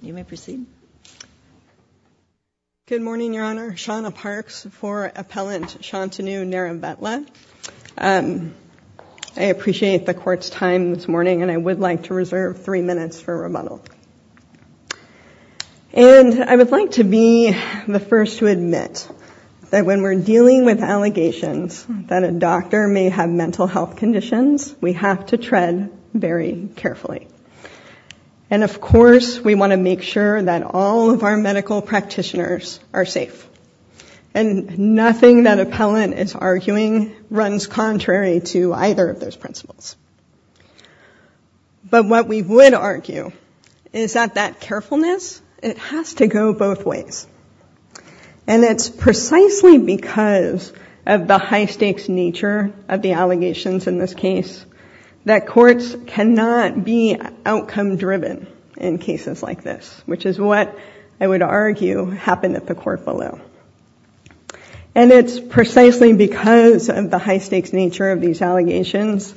You may proceed. Good morning, Your Honor. Shawna Parks for Appellant Shantanu Neravetla. I appreciate the court's time this morning and I would like to reserve three minutes for rebuttal. And I would like to be the first to admit that when we're dealing with allegations that a doctor may have mental health issues, of course, we want to make sure that all of our medical practitioners are safe. And nothing that Appellant is arguing runs contrary to either of those principles. But what we would argue is that that carefulness, it has to go both ways. And it's precisely because of the high-stakes nature of the allegations in this case that courts cannot be outcome-driven in cases like this, which is what I would argue happened at the court below. And it's precisely because of the high-stakes nature of these allegations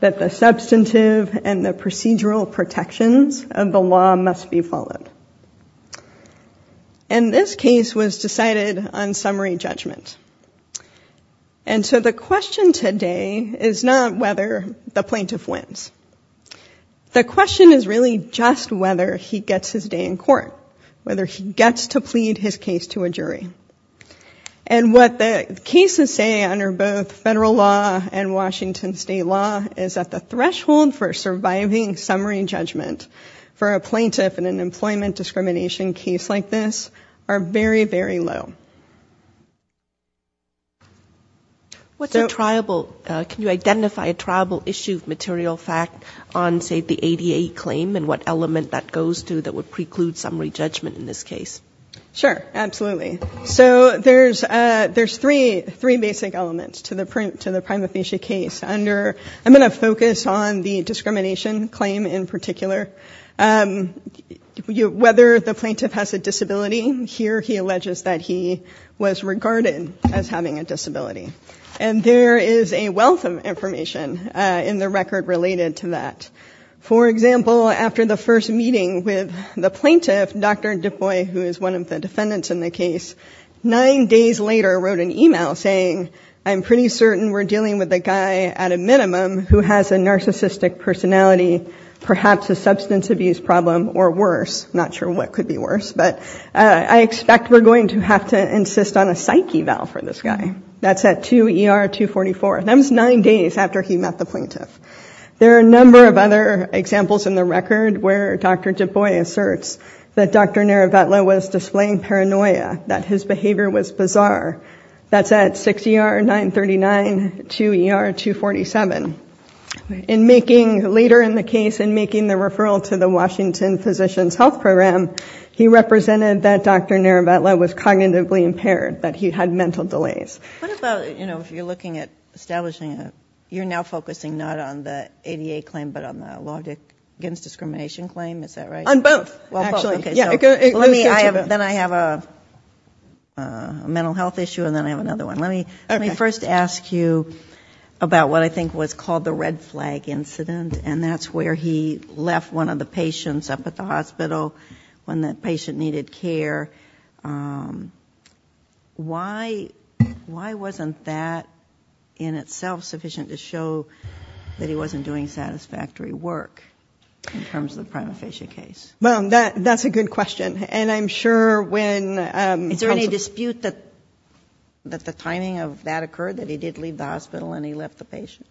that the substantive and the procedural protections of the law must be followed. And this case was decided on whether the plaintiff wins. The question is really just whether he gets his day in court, whether he gets to plead his case to a jury. And what the cases say under both federal law and Washington state law is that the threshold for surviving summary judgment for a plaintiff in an employment discrimination case like this are very, very low. What's a triable? Can you identify a triable issue of material fact on, say, the ADA claim and what element that goes to that would preclude summary judgment in this case? Sure. Absolutely. So there's three basic elements to the prima facie case. Under, I'm going to focus on the discrimination claim in particular. Whether the plaintiff has a disability, here he alleges that he was regarded as having a disability. And there is a wealth of information in the record related to that. For example, after the first meeting with the plaintiff, Dr. Dubois, who is one of the defendants in the case, nine days later wrote an email saying, I'm pretty certain we're dealing with a guy at a minimum who has a narcissistic personality, perhaps a substance abuse problem or worse. Not sure what could be worse, but I expect we're going to have to insist on a psyche vow for this guy. That's at 2 ER 244. That was nine days after he met the plaintiff. There are a number of other examples in the record where Dr. Dubois asserts that Dr. Nerevetla was displaying paranoia, that his behavior was bizarre. That's at 6 ER 939, 2 ER 247. And later in the case, in making the referral to the Washington Physician's Health Program, he represented that Dr. Nerevetla was cognitively impaired, that he had mental delays. What about if you're looking at establishing, you're now focusing not on the ADA claim, but on the law against discrimination claim, is that right? On both, actually. Okay, so let me, then I have a mental health issue and then I have another one. Let me first ask you about what I think was called the red flag incident. And that's where he left one of the patients up at the hospital when that patient needed care. Why wasn't that in itself sufficient to show that he wasn't doing satisfactory work in terms of the prima facie case? Well, that's a good question. And I'm sure when... Is there a dispute that the timing of that occurred, that he did leave the hospital and he left the patient?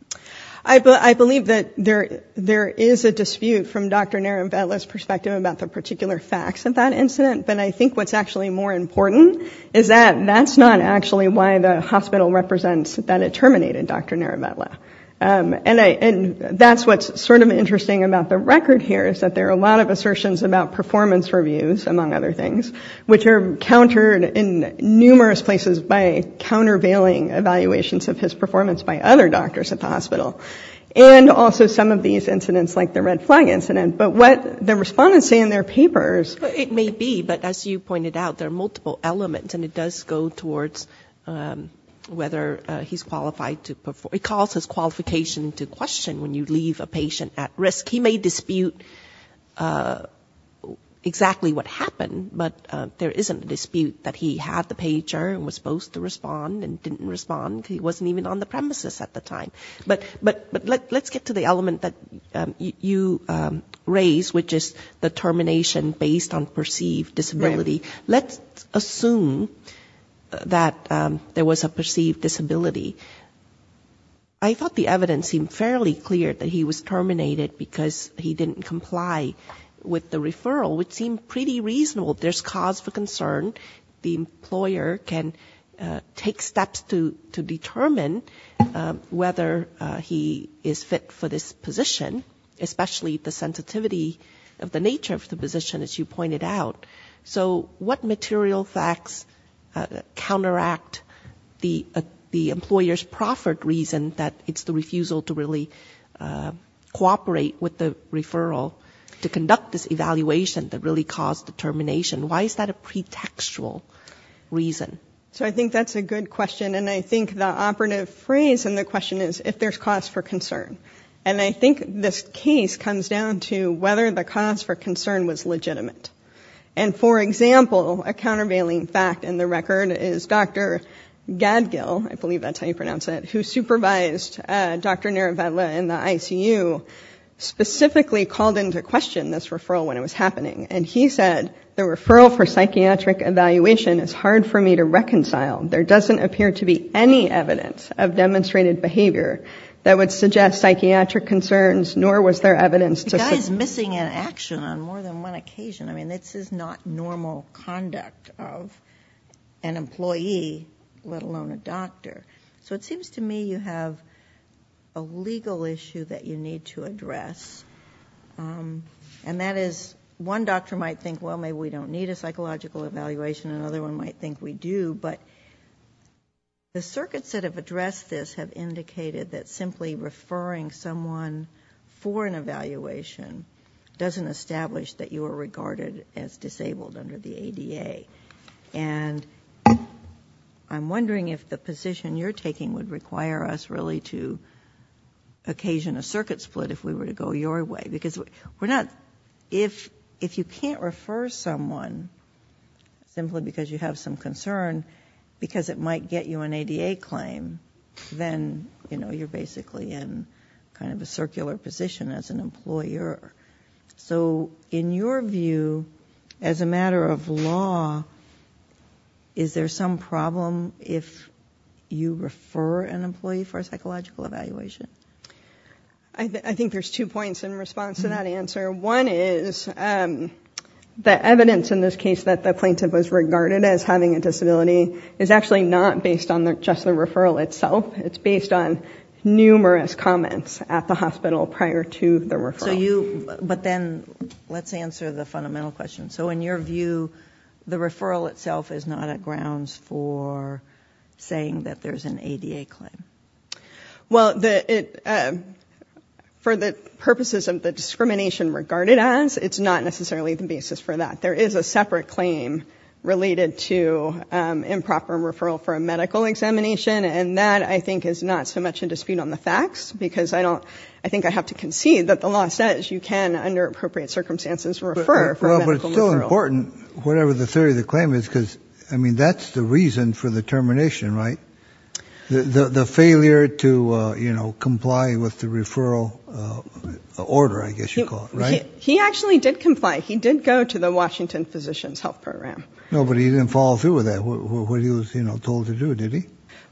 I believe that there is a dispute from Dr. Nerevetla's perspective about the particular facts of that incident. But I think what's actually more important is that that's not actually why the hospital represents that it terminated Dr. Nerevetla. And that's what's sort of interesting about the record here, is that there are a lot of assertions about performance reviews, among other things, which are countered in numerous places by countervailing evaluations of his performance by other doctors at the hospital. And also some of these incidents like the red flag incident. But what the respondents say in their papers... It may be, but as you pointed out, there are multiple elements and it does go towards whether he's qualified to perform. It calls his qualification into question when you leave a patient at risk. He may dispute exactly what happened, but there isn't a dispute that he had the pager and was supposed to respond and didn't respond because he wasn't even on the premises at the time. But let's get to the element that you raised, which is the termination based on perceived disability. Let's assume that there was a perceived disability. I thought the evidence seemed fairly clear that he was terminated because he didn't comply with the referral, which seemed pretty reasonable. There's cause for concern. The employer can take steps to determine whether he is fit for this position, especially the sensitivity of the nature of the position, as you pointed out. So what material facts counteract the employer's proffered reason that it's the refusal to really cooperate with the referral to conduct this evaluation that really caused the termination? Why is that a pretextual reason? So I think that's a good question. And I think the operative phrase in the question is if there's cause for concern. And I think this case comes down to whether the cause for concern was legitimate. And, for example, a countervailing fact in the record is Dr. Gadgil, I believe that's how you pronounce it, who supervised Dr. Nerevedla in the ICU, specifically called into question this referral when it was happening. And he said, the referral for psychiatric evaluation is hard for me to reconcile. There doesn't appear to be any evidence of demonstrated behavior that would suggest psychiatric concerns, nor was there evidence to suggest... The guy is missing in action on more than one occasion. I mean, this is not normal conduct of an employee, let alone a doctor. So it seems to me you have a legal issue that you need to address. And that is, one doctor might think, well, maybe we don't need a psychological evaluation, and another one might think we do. But the circuits that have addressed this have indicated that simply referring someone for an evaluation doesn't establish that you are regarded as disabled under the ADA. And I'm wondering if the position you're taking would require us really to occasion a circuit split if we were to go your way. Because we're not... If you can't refer someone simply because you have some concern, because it might get you an ADA claim, then you're basically in kind of a circular position as an employer. So in your view, as a matter of law, is there some problem if you refer an employee for a psychological evaluation? I think there's two points in response to that answer. One is the evidence in this case that the plaintiff was regarded as having a disability is actually not based on just the referral itself. It's based on numerous comments at the hospital prior to the referral. But then let's answer the fundamental question. So in your view, the referral itself is not a grounds for saying that there's an ADA claim? Well, for the purposes of the discrimination regarded as, it's not necessarily the basis for that. There is a separate claim related to improper referral for a medical examination. And that, I think, is not so much a dispute on the facts because I don't... I think I have to concede that the law says you can, under appropriate circumstances, refer for a medical referral. But it's still important, whatever the theory of the claim is, because, I mean, that's the reason for the termination, right? The failure to comply with the referral order, I guess you call it, right? He actually did comply. He did go to the Washington Physicians Health Program. No, but he didn't follow through with that, what he was told to do, did he?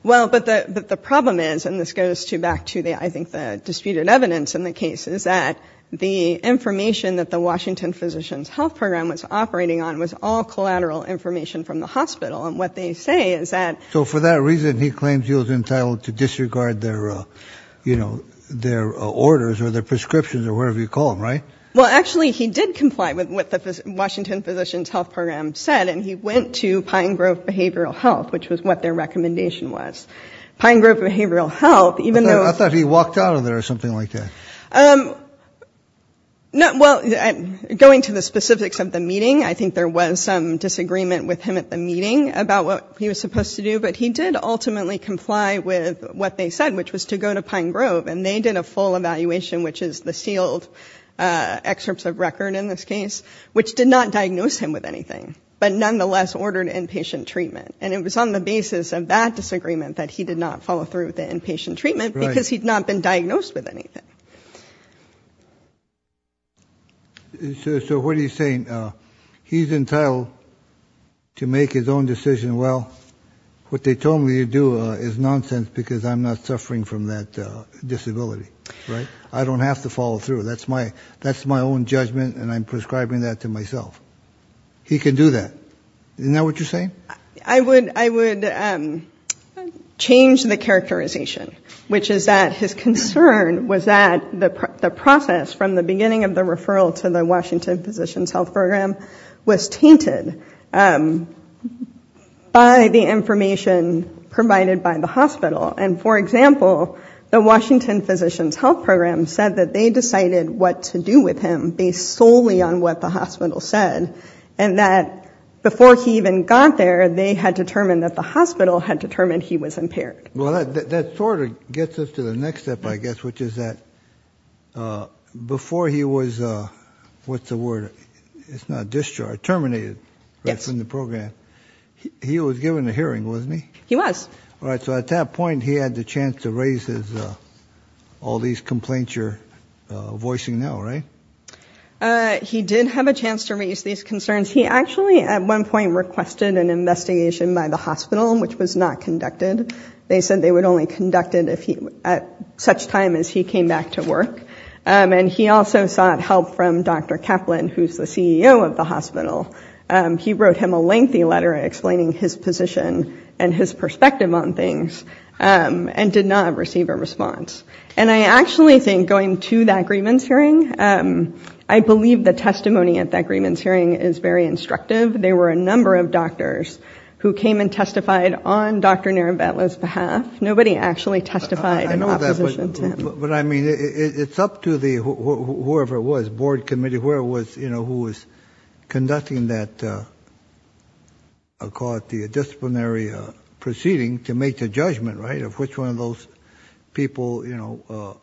Well, but the problem is, and this goes back to, I think, the disputed evidence in the case, is that the information that the Washington Physicians Health Program was operating on was all collateral information from the hospital. And what they say is that... So for that reason, he claims he was entitled to disregard their, you know, their orders or their prescriptions or whatever you call them, right? Well, actually, he did comply with what the Washington Physicians Health Program said, and he went to Pine Grove Behavioral Health, which was what their recommendation was. Pine Grove Behavioral Health, even though... I thought he walked out of there or something like that. Well, going to the specifics of the meeting, I think there was some disagreement with him at the meeting about what he was supposed to do, but he did ultimately comply with what they said, which was to go to Pine Grove, and they did a full evaluation, which is the sealed excerpts of record in this case, which did not diagnose him with anything, but nonetheless ordered inpatient treatment. And it was on the basis of that disagreement that he did not follow through with the inpatient treatment because he'd not been diagnosed with anything. So what are you saying? He's entitled to make his own decision. Well, what they told me to do is nonsense because I'm not suffering from that disability, right? I don't have to follow through. That's my own judgment, and I'm prescribing that to myself. He can do that. Isn't that what you're saying? I would change the characterization, which is that his concern was that the process from the beginning of the referral to the Washington Physicians Health Program was tainted. By the information provided by the hospital, and for example, the Washington Physicians Health Program said that they decided what to do with him based solely on what the hospital said, and that before he even got there, they had determined that the hospital had determined he was impaired. Well, that sort of gets us to the next step, I guess, which is that before he was, what's the word? It's not discharged. Terminated from the program. He was given a hearing, wasn't he? He was. All right. So at that point, he had the chance to raise all these complaints you're voicing now, right? He did have a chance to raise these concerns. He actually at one point requested an investigation by the hospital, which was not conducted. They said they would only conduct it at such time as he came back to work. And he also sought help from Dr. Kaplan, who's the CEO of the hospital. He wrote him a lengthy letter explaining his position and his perspective on things, and did not receive a response. And I actually think going to that grievance hearing, I believe the testimony at that grievance hearing is very justified on Dr. Narabello's behalf. Nobody actually testified in opposition to him. But I mean, it's up to whoever it was, board committee, whoever it was, you know, who was conducting that, I'll call it the disciplinary proceeding to make the judgment, right? Of which one of those people, you know,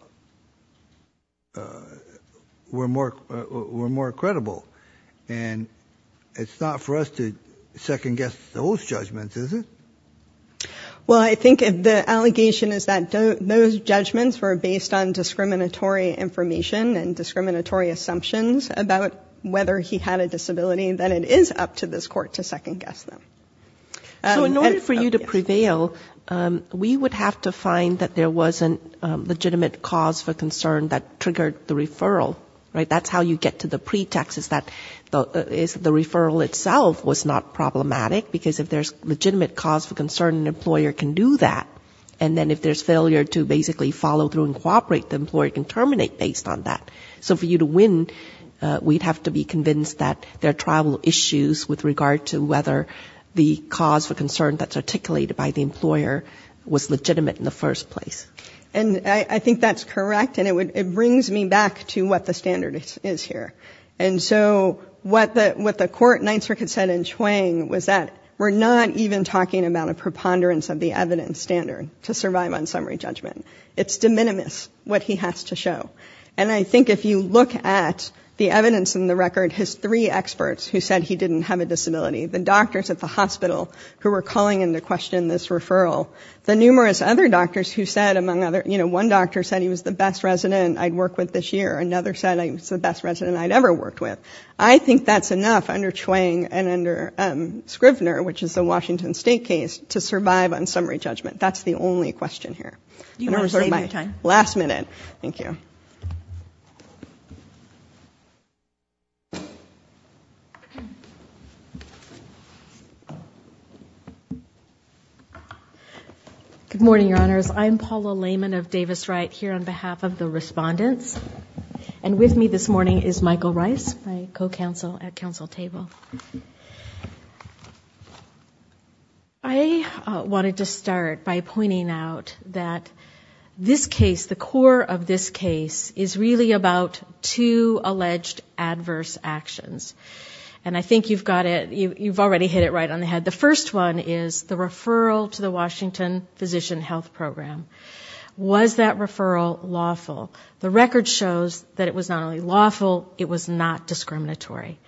were more credible. And it's not for us to second-guess those judgments, is it? Well, I think the allegation is that those judgments were based on discriminatory information and discriminatory assumptions about whether he had a disability. Then it is up to this Court to second-guess them. So in order for you to prevail, we would have to find that there was a legitimate cause for concern that triggered the referral, right? And that's how you get to the pretext is that the referral itself was not problematic, because if there's legitimate cause for concern, an employer can do that. And then if there's failure to basically follow through and cooperate, the employer can terminate based on that. So for you to win, we'd have to be convinced that there are tribal issues with regard to whether the cause for concern that's articulated by the employer was legitimate in the first place. And I think that's correct, and it brings me back to what the standard is here. And so what the Court in Ninth Circuit said in Chuang was that we're not even talking about a preponderance of the evidence standard to survive on summary judgment. It's de minimis, what he has to show. And I think if you look at the evidence in the record, his three experts who said he didn't have a disability, the doctors at the hospital who were calling into question this referral, the numerous other doctors who said, among other, you know, one doctor said he was the best resident I'd worked with this year. Another said he was the best resident I'd ever worked with. I think that's enough under Chuang and under Scrivner, which is the Washington State case, to survive on summary judgment. That's the only question here. Last minute. Thank you. Good morning, Your Honors. I'm Paula Lehman of Davis-Wright here on behalf of the respondents. And with me this morning is Michael Rice, my co-counsel at counsel table. I wanted to start by pointing out that this case, the core of this case, is really about two alleged adverse actions. And I think you've got it, you've already hit it right on the head. The first one is the referral to the Washington Physician Health Program. Was that referral lawful? The record shows that it was not only lawful, it was not discriminatory.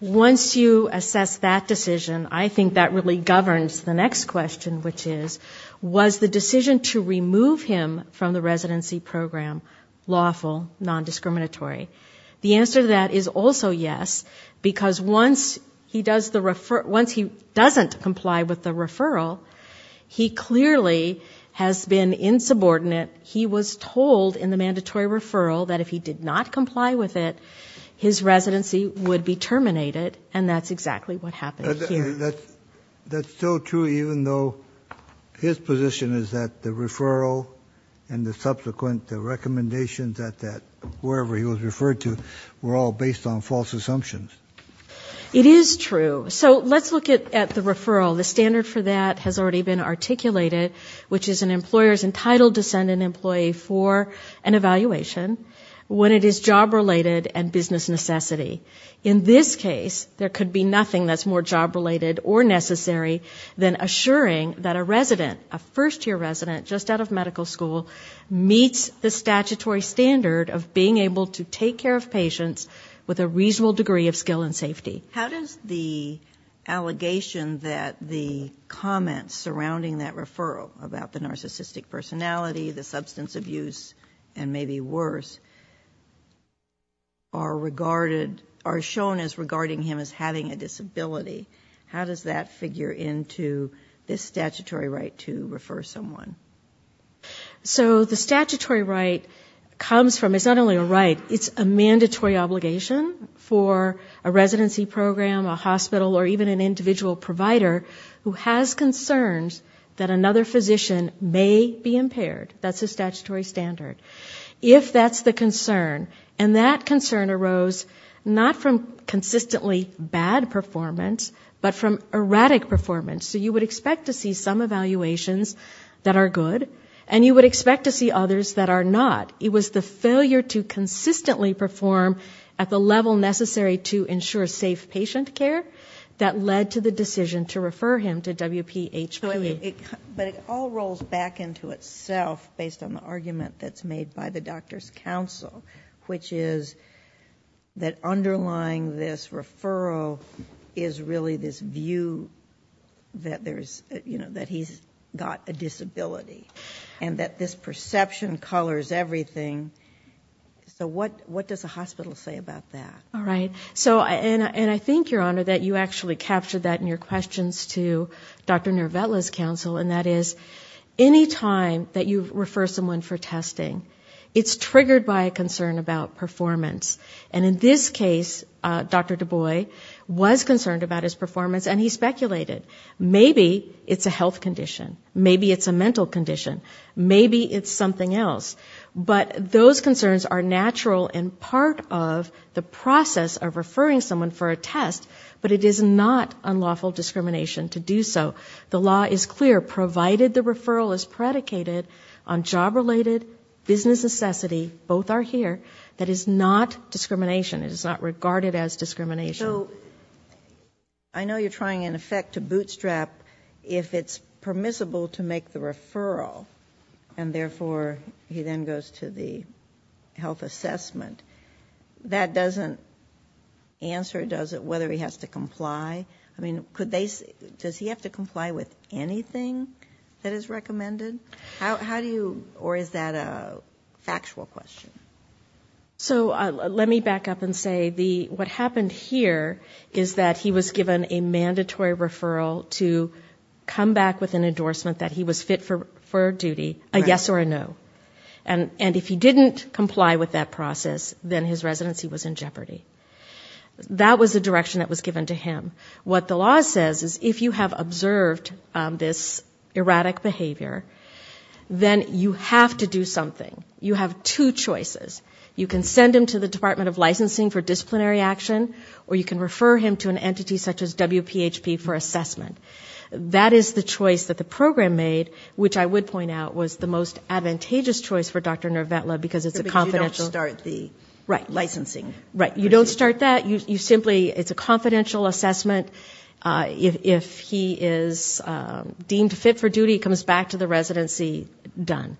Once you assess that decision, I think that really governs the next question, which is, was the decision to remove him from the residency program lawful, non-discriminatory? The answer to that is also yes, because once he doesn't comply with the referral, he clearly has been insubordinate. He was told in the mandatory referral that if he did not comply with it, his residency would be terminated. And that's exactly what happened here. That's so true, even though his position is that the referral and the subsequent recommendations at that, wherever he was referred to, were all based on false assumptions. It is true. So let's look at the referral. The standard for that has already been articulated, which is an employer is entitled to send an employee for an evaluation when it is job-related and business necessity. In this case, there could be nothing that's more job-related or necessary than assuring that a resident, a first-year resident just out of medical school, meets the statutory standard of being able to take care of patients with a reasonable degree of skill and safety. How does the allegation that the comments surrounding that referral, about the narcissistic personality, the substance abuse, and maybe worse, are regarded as being true? How does that figure into this statutory right to refer someone? So the statutory right comes from, it's not only a right, it's a mandatory obligation for a residency program, a hospital, or even an individual provider who has concerns that another physician may be impaired. That's a statutory standard. It's not from consistently bad performance, but from erratic performance. So you would expect to see some evaluations that are good, and you would expect to see others that are not. It was the failure to consistently perform at the level necessary to ensure safe patient care that led to the decision to refer him to WPHP. But it all rolls back into itself, based on the argument that's made by the doctor's counsel, which is that underlining the fact that a physician is not a good physician, underlying this referral is really this view that he's got a disability, and that this perception colors everything. So what does the hospital say about that? And I think, Your Honor, that you actually captured that in your questions to Dr. Nervetla's counsel, and that is, any time that you refer someone for testing, it's triggered by a concern about performance. And in this case, Dr. Dubois was concerned about his performance, and he speculated, maybe it's a health condition, maybe it's a mental condition, maybe it's something else. But those concerns are natural and part of the process of referring someone for a test, but it is not unlawful discrimination to do so. The law is clear, provided the referral is predicated on job-related business necessity, both are here, that is not unlawful discrimination. It is not regarded as discrimination. So I know you're trying, in effect, to bootstrap if it's permissible to make the referral, and therefore he then goes to the health assessment. That doesn't answer, does it, whether he has to comply? I mean, does he have to comply with anything that is recommended? How do you, or is that a factual question? So let me back up and say, what happened here is that he was given a mandatory referral to come back with an endorsement that he was fit for duty, a yes or a no. And if he didn't comply with that process, then his residency was in jeopardy. That was the direction that was given to him. Then you have to do something, you have two choices. You can send him to the Department of Licensing for disciplinary action, or you can refer him to an entity such as WPHP for assessment. That is the choice that the program made, which I would point out was the most advantageous choice for Dr. Nervetla, because it's a confidential- Because you don't start the licensing. Right, you don't start that, you simply, it's a confidential assessment. If he is deemed fit for duty, he comes back to the residency, done.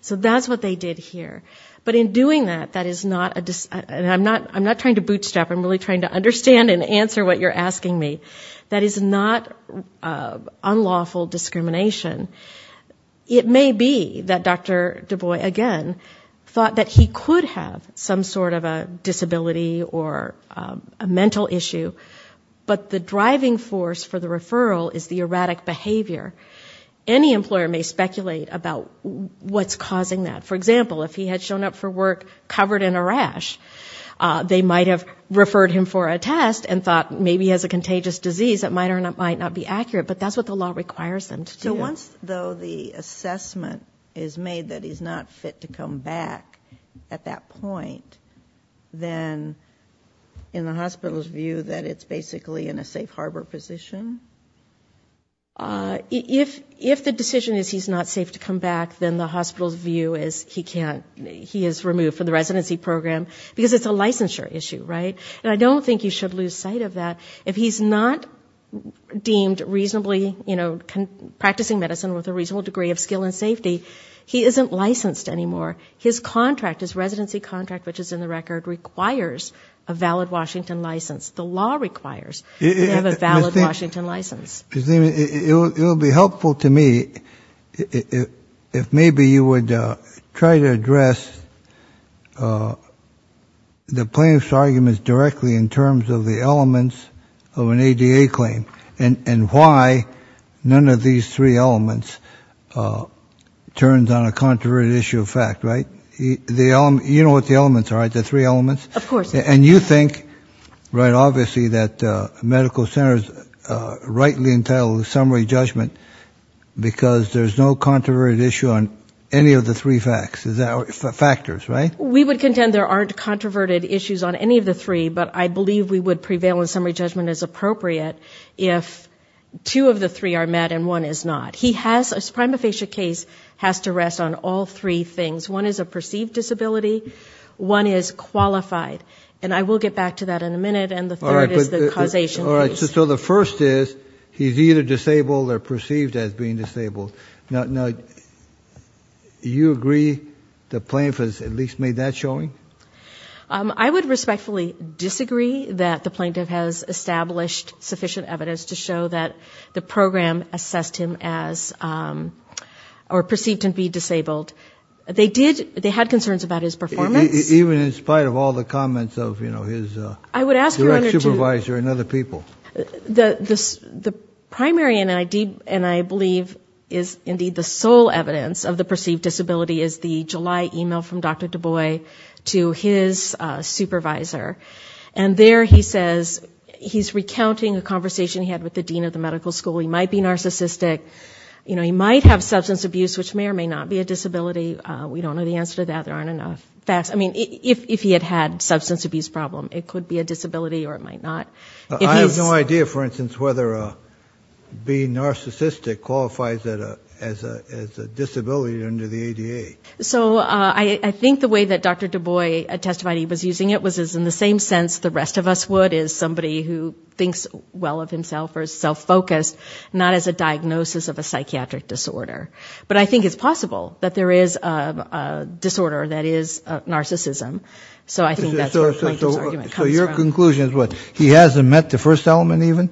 So that's what they did here. But in doing that, that is not a, and I'm not trying to bootstrap, I'm really trying to understand and answer what you're asking me, that is not unlawful discrimination. It may be that Dr. Dubois, again, thought that he could have some sort of a disability or a mental issue, but the driving force for the referral is the erratic behavior. Any employer may speculate about what's causing that. For example, if he had shown up for work covered in a rash, they might have referred him for a test and thought maybe he has a contagious disease that might or might not be accurate, but that's what the law requires them to do. So once, though, the assessment is made that he's not fit to come back at that point, then in the hospital's view that it's basically in a safe harbor position? If the decision is he's not safe to come back, then the hospital's view is he can't, he is removed from the residency program, because it's a licensure issue, right? And I don't think you should lose sight of that. If he's not deemed reasonably, you know, practicing medicine with a reasonable degree of skill and safety, he isn't licensed anymore. His contract, his residency contract, which is in the record, requires a valid Washington license. The law requires to have a valid Washington license. It would be helpful to me if maybe you would try to address the plaintiff's arguments directly in terms of the elements of an ADA claim, and why none of these three elements turns on a controversial issue of fact, right? You know what the elements are, right, the three elements? And you think, right, obviously that medical centers rightly entail a summary judgment, because there's no controverted issue on any of the three factors, right? We would contend there aren't controverted issues on any of the three, but I believe we would prevail in summary judgment as appropriate if two of the three are met and one is not. He has, his prima facie case has to rest on all three things. One is a perceived disability, one is qualified, and I will get back to that in a minute, and the third is the causation case. All right, so the first is, he's either disabled or perceived as being disabled. Now, do you agree the plaintiff has at least made that showing? I would respectfully disagree that the plaintiff has established sufficient evidence to show that the program assessed him as disabled. He has, or perceived to be disabled. They did, they had concerns about his performance. Even in spite of all the comments of, you know, his direct supervisor and other people. The primary, and I believe is indeed the sole evidence of the perceived disability is the July email from Dr. Dubois to his supervisor, and there he says, he's recounting a conversation he had with the dean of the medical school. He might be narcissistic, you know, he might have substance abuse, which may or may not be a disability. We don't know the answer to that. There aren't enough facts. I mean, if he had had substance abuse problem, it could be a disability or it might not. I have no idea, for instance, whether being narcissistic qualifies as a disability under the ADA. So I think the way that Dr. Dubois testified he was using it was in the same sense the rest of us would as somebody who thinks well of himself or is self-focused. Not as a diagnosis of a psychiatric disorder. But I think it's possible that there is a disorder that is narcissism, so I think that's where Plankton's argument comes from. So your conclusion is what, he hasn't met the first element even?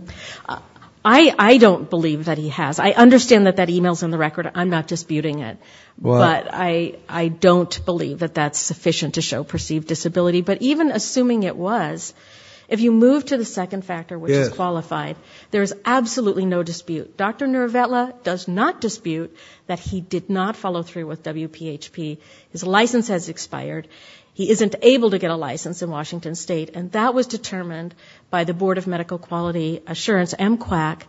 I don't believe that he has. I understand that that email's in the record. I'm not disputing it. But I don't believe that that's sufficient to show perceived disability. But even assuming it was, if you move to the second factor, which is qualified, there is absolutely no dispute. Dr. Nervetla does not dispute that he did not follow through with WPHP. His license has expired. He isn't able to get a license in Washington State. And that was determined by the Board of Medical Quality Assurance, MQAC,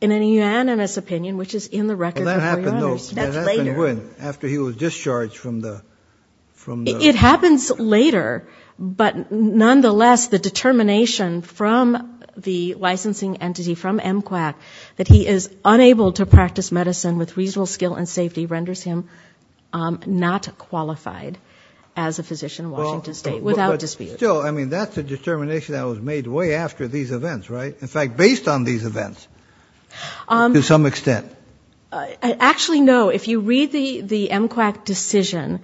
in an unanimous opinion, which is in the record. That happened when? After he was discharged from the... It happens later, but nonetheless, the determination from the licensing entity, from MQAC, that he is unable to practice medicine with reasonable skill and safety renders him not qualified as a physician in Washington State, without dispute. Still, I mean, that's a determination that was made way after these events, right? In fact, based on these events, to some extent. Actually, no. If you read the MQAC decision,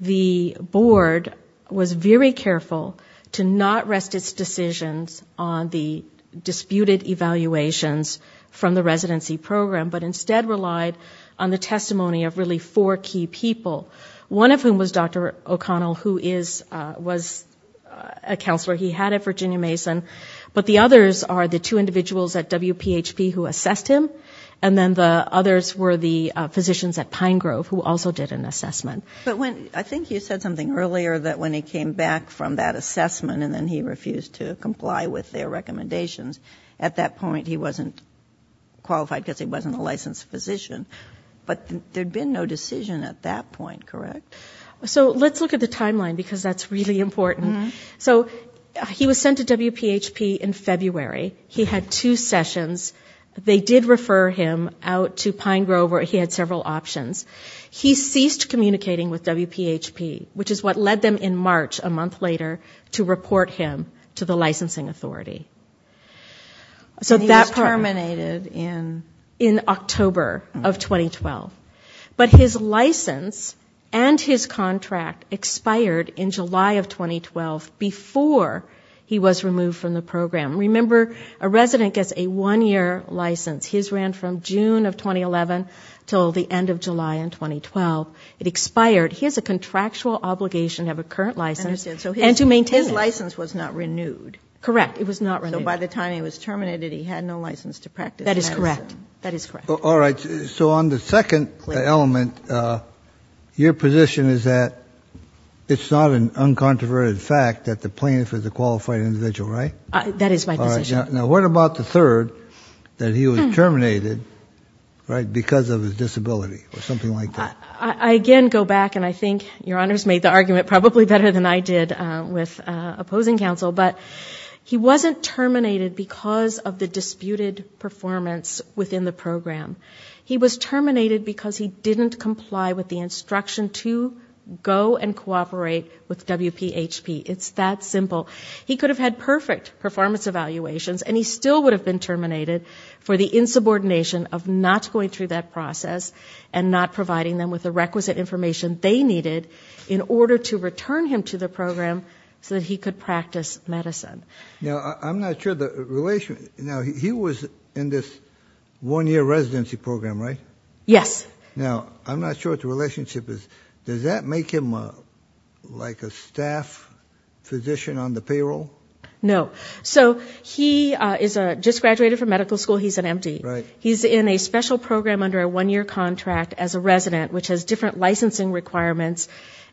the Board was very careful to not rest its decisions on the disputed evaluations from the residency program, but instead relied on the testimony of really four key people, one of whom was Dr. O'Connell, who was a counselor he had at Virginia Mason. But the others are the two individuals at WPHP who assessed him, and then the others were the physicians at Pine Grove, who also did an assessment. But when, I think you said something earlier, that when he came back from that assessment and then he refused to comply with their recommendations, at that point he wasn't qualified, because he wasn't a licensed physician. But there had been no decision at that point, correct? So let's look at the timeline, because that's really important. So he was sent to WPHP in February, he had two sessions, they did refer him out to Pine Grove where he had several options. He ceased communicating with WPHP, which is what led them in March, a month later, to report him to the licensing authority. So that part... His contract expired in July of 2012, before he was removed from the program. Remember, a resident gets a one-year license. His ran from June of 2011 until the end of July in 2012. It expired. He has a contractual obligation to have a current license and to maintain it. So his license was not renewed. Correct. So by the time he was terminated, he had no license to practice medicine. That is correct. So on the second element, your position is that it's not an uncontroverted fact that the plaintiff is a qualified individual, right? That is my position. Now what about the third, that he was terminated because of his disability, or something like that? I again go back, and I think your Honor's made the argument probably better than I did with opposing counsel, but he wasn't terminated because of the disputed performance within the program. He was terminated because he didn't comply with the instruction to go and cooperate with WPHP. It's that simple. He could have had perfect performance evaluations, and he still would have been terminated for the insubordination of not going through that process and not providing them with the requisite information they needed in order to return him to the program so that he could practice medicine. Now I'm not sure the relation, now he was in this one-year residency program, right? Yes. Now I'm not sure what the relationship is. Does that make him like a staff physician on the payroll? No. So he just graduated from medical school, he's an M.D. He's in a special program under a one-year contract as a resident, which has different licensing requirements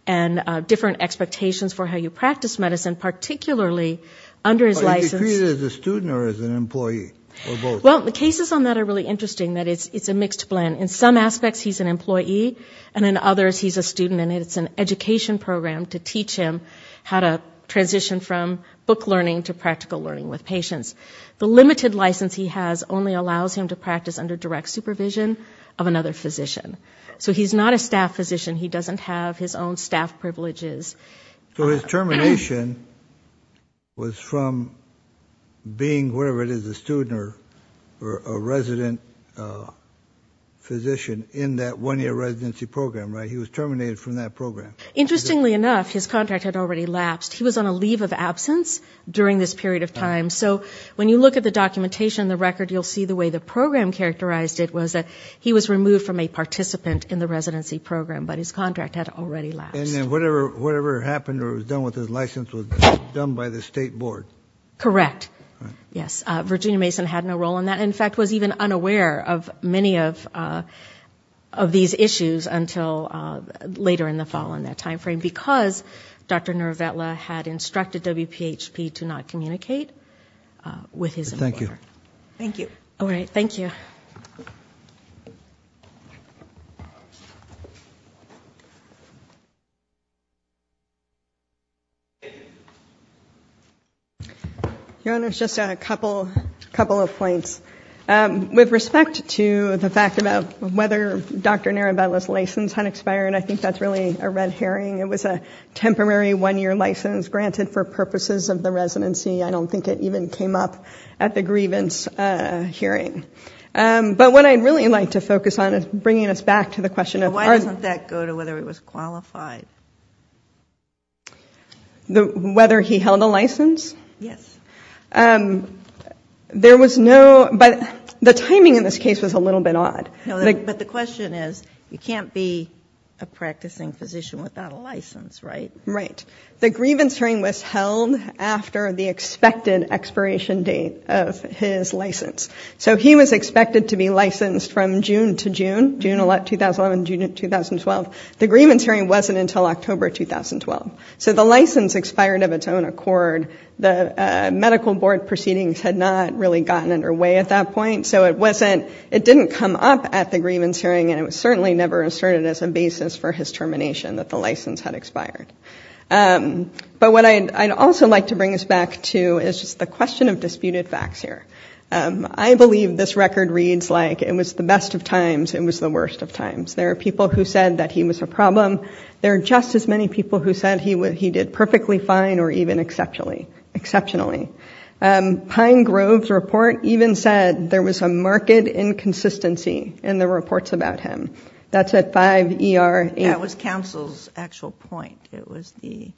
and different expectations for how you practice medicine, particularly under his license. Is he treated as a student or as an employee, or both? Well, the cases on that are really interesting, that it's a mixed blend. In some aspects he's an employee, and in others he's a student, and it's an education program to teach him how to transition from book learning to practical learning with patients. The limited license he has only allows him to practice under direct supervision of another physician. So he's not a staff physician, he doesn't have his own staff privileges. So his termination was from being whatever it is, a student or a resident physician in that one-year residency program, right? He was terminated from that program. Interestingly enough, his contract had already lapsed. He was on a leave of absence during this period of time. So when you look at the documentation, the record, you'll see the way the program characterized it was that he was removed from a participant in the residency program, but his contract had already lapsed. And then whatever happened or was done with his license was done by the state board? Correct. Yes, Virginia Mason had no role in that, and in fact was even unaware of many of these issues until later in the fall in that time frame, because Dr. Nervetla had instructed WPHP to not communicate with his employer. Thank you. Your Honor, just a couple of points. With respect to the fact about whether Dr. Nervetla's license had expired, I think that's really a red herring. It was a temporary one-year license granted for purposes of the residency. I don't think it even came up at the grievance hearing. But what I'd really like to focus on is bringing us back to the question of... Why doesn't that go to whether he was qualified? Whether he held a license? Yes. There was no, but the timing in this case was a little bit odd. But the question is, you can't be a practicing physician without a license, right? Right. The grievance hearing was held after the expected expiration date of his license. So he was expected to be licensed from June to June, June 2011, June 2012. The grievance hearing wasn't until October 2012. So the license expired of its own accord. The medical board proceedings had not really gotten underway at that point. So it didn't come up at the grievance hearing, and it was certainly never asserted as a basis for his termination that the license had expired. But what I'd also like to bring us back to is just the question of disputed facts here. I believe this record reads like, it was the best of times, it was the worst of times. There are people who said that he was a problem. There are just as many people who said he did perfectly fine or even exceptionally. Pine Grove's report even said there was a marked inconsistency in the reports about him. That's at 5 ER 8. That was counsel's actual point. In fact, it was the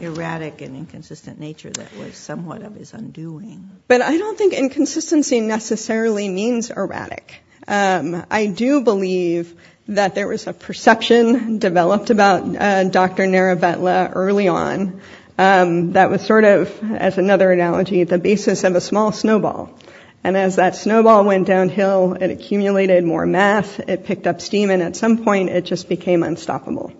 erratic and inconsistent nature that was somewhat of his undoing. But I don't think inconsistency necessarily means erratic. I do believe that there was a perception developed about Dr. Naravetla early on that was sort of, as another analogy, the basis of a small snowball. And as that snowball went downhill, it accumulated more math, it picked up steam, and at some point it just became unstoppable.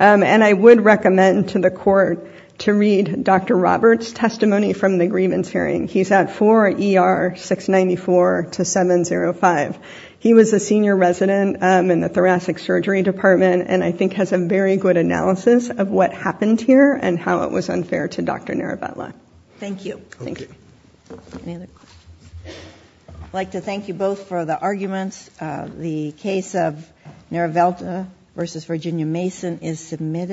And I would recommend to the court to read Dr. Roberts' testimony from the grievance hearing. He's at 4 ER 694 to 705. He was a senior resident in the thoracic surgery department and I think has a very good analysis of what happened here and how it was unfair to Dr. Naravetla. Thank you. I'd like to thank you both for the arguments. The case of Naravetla v. Virginia Mason is submitted.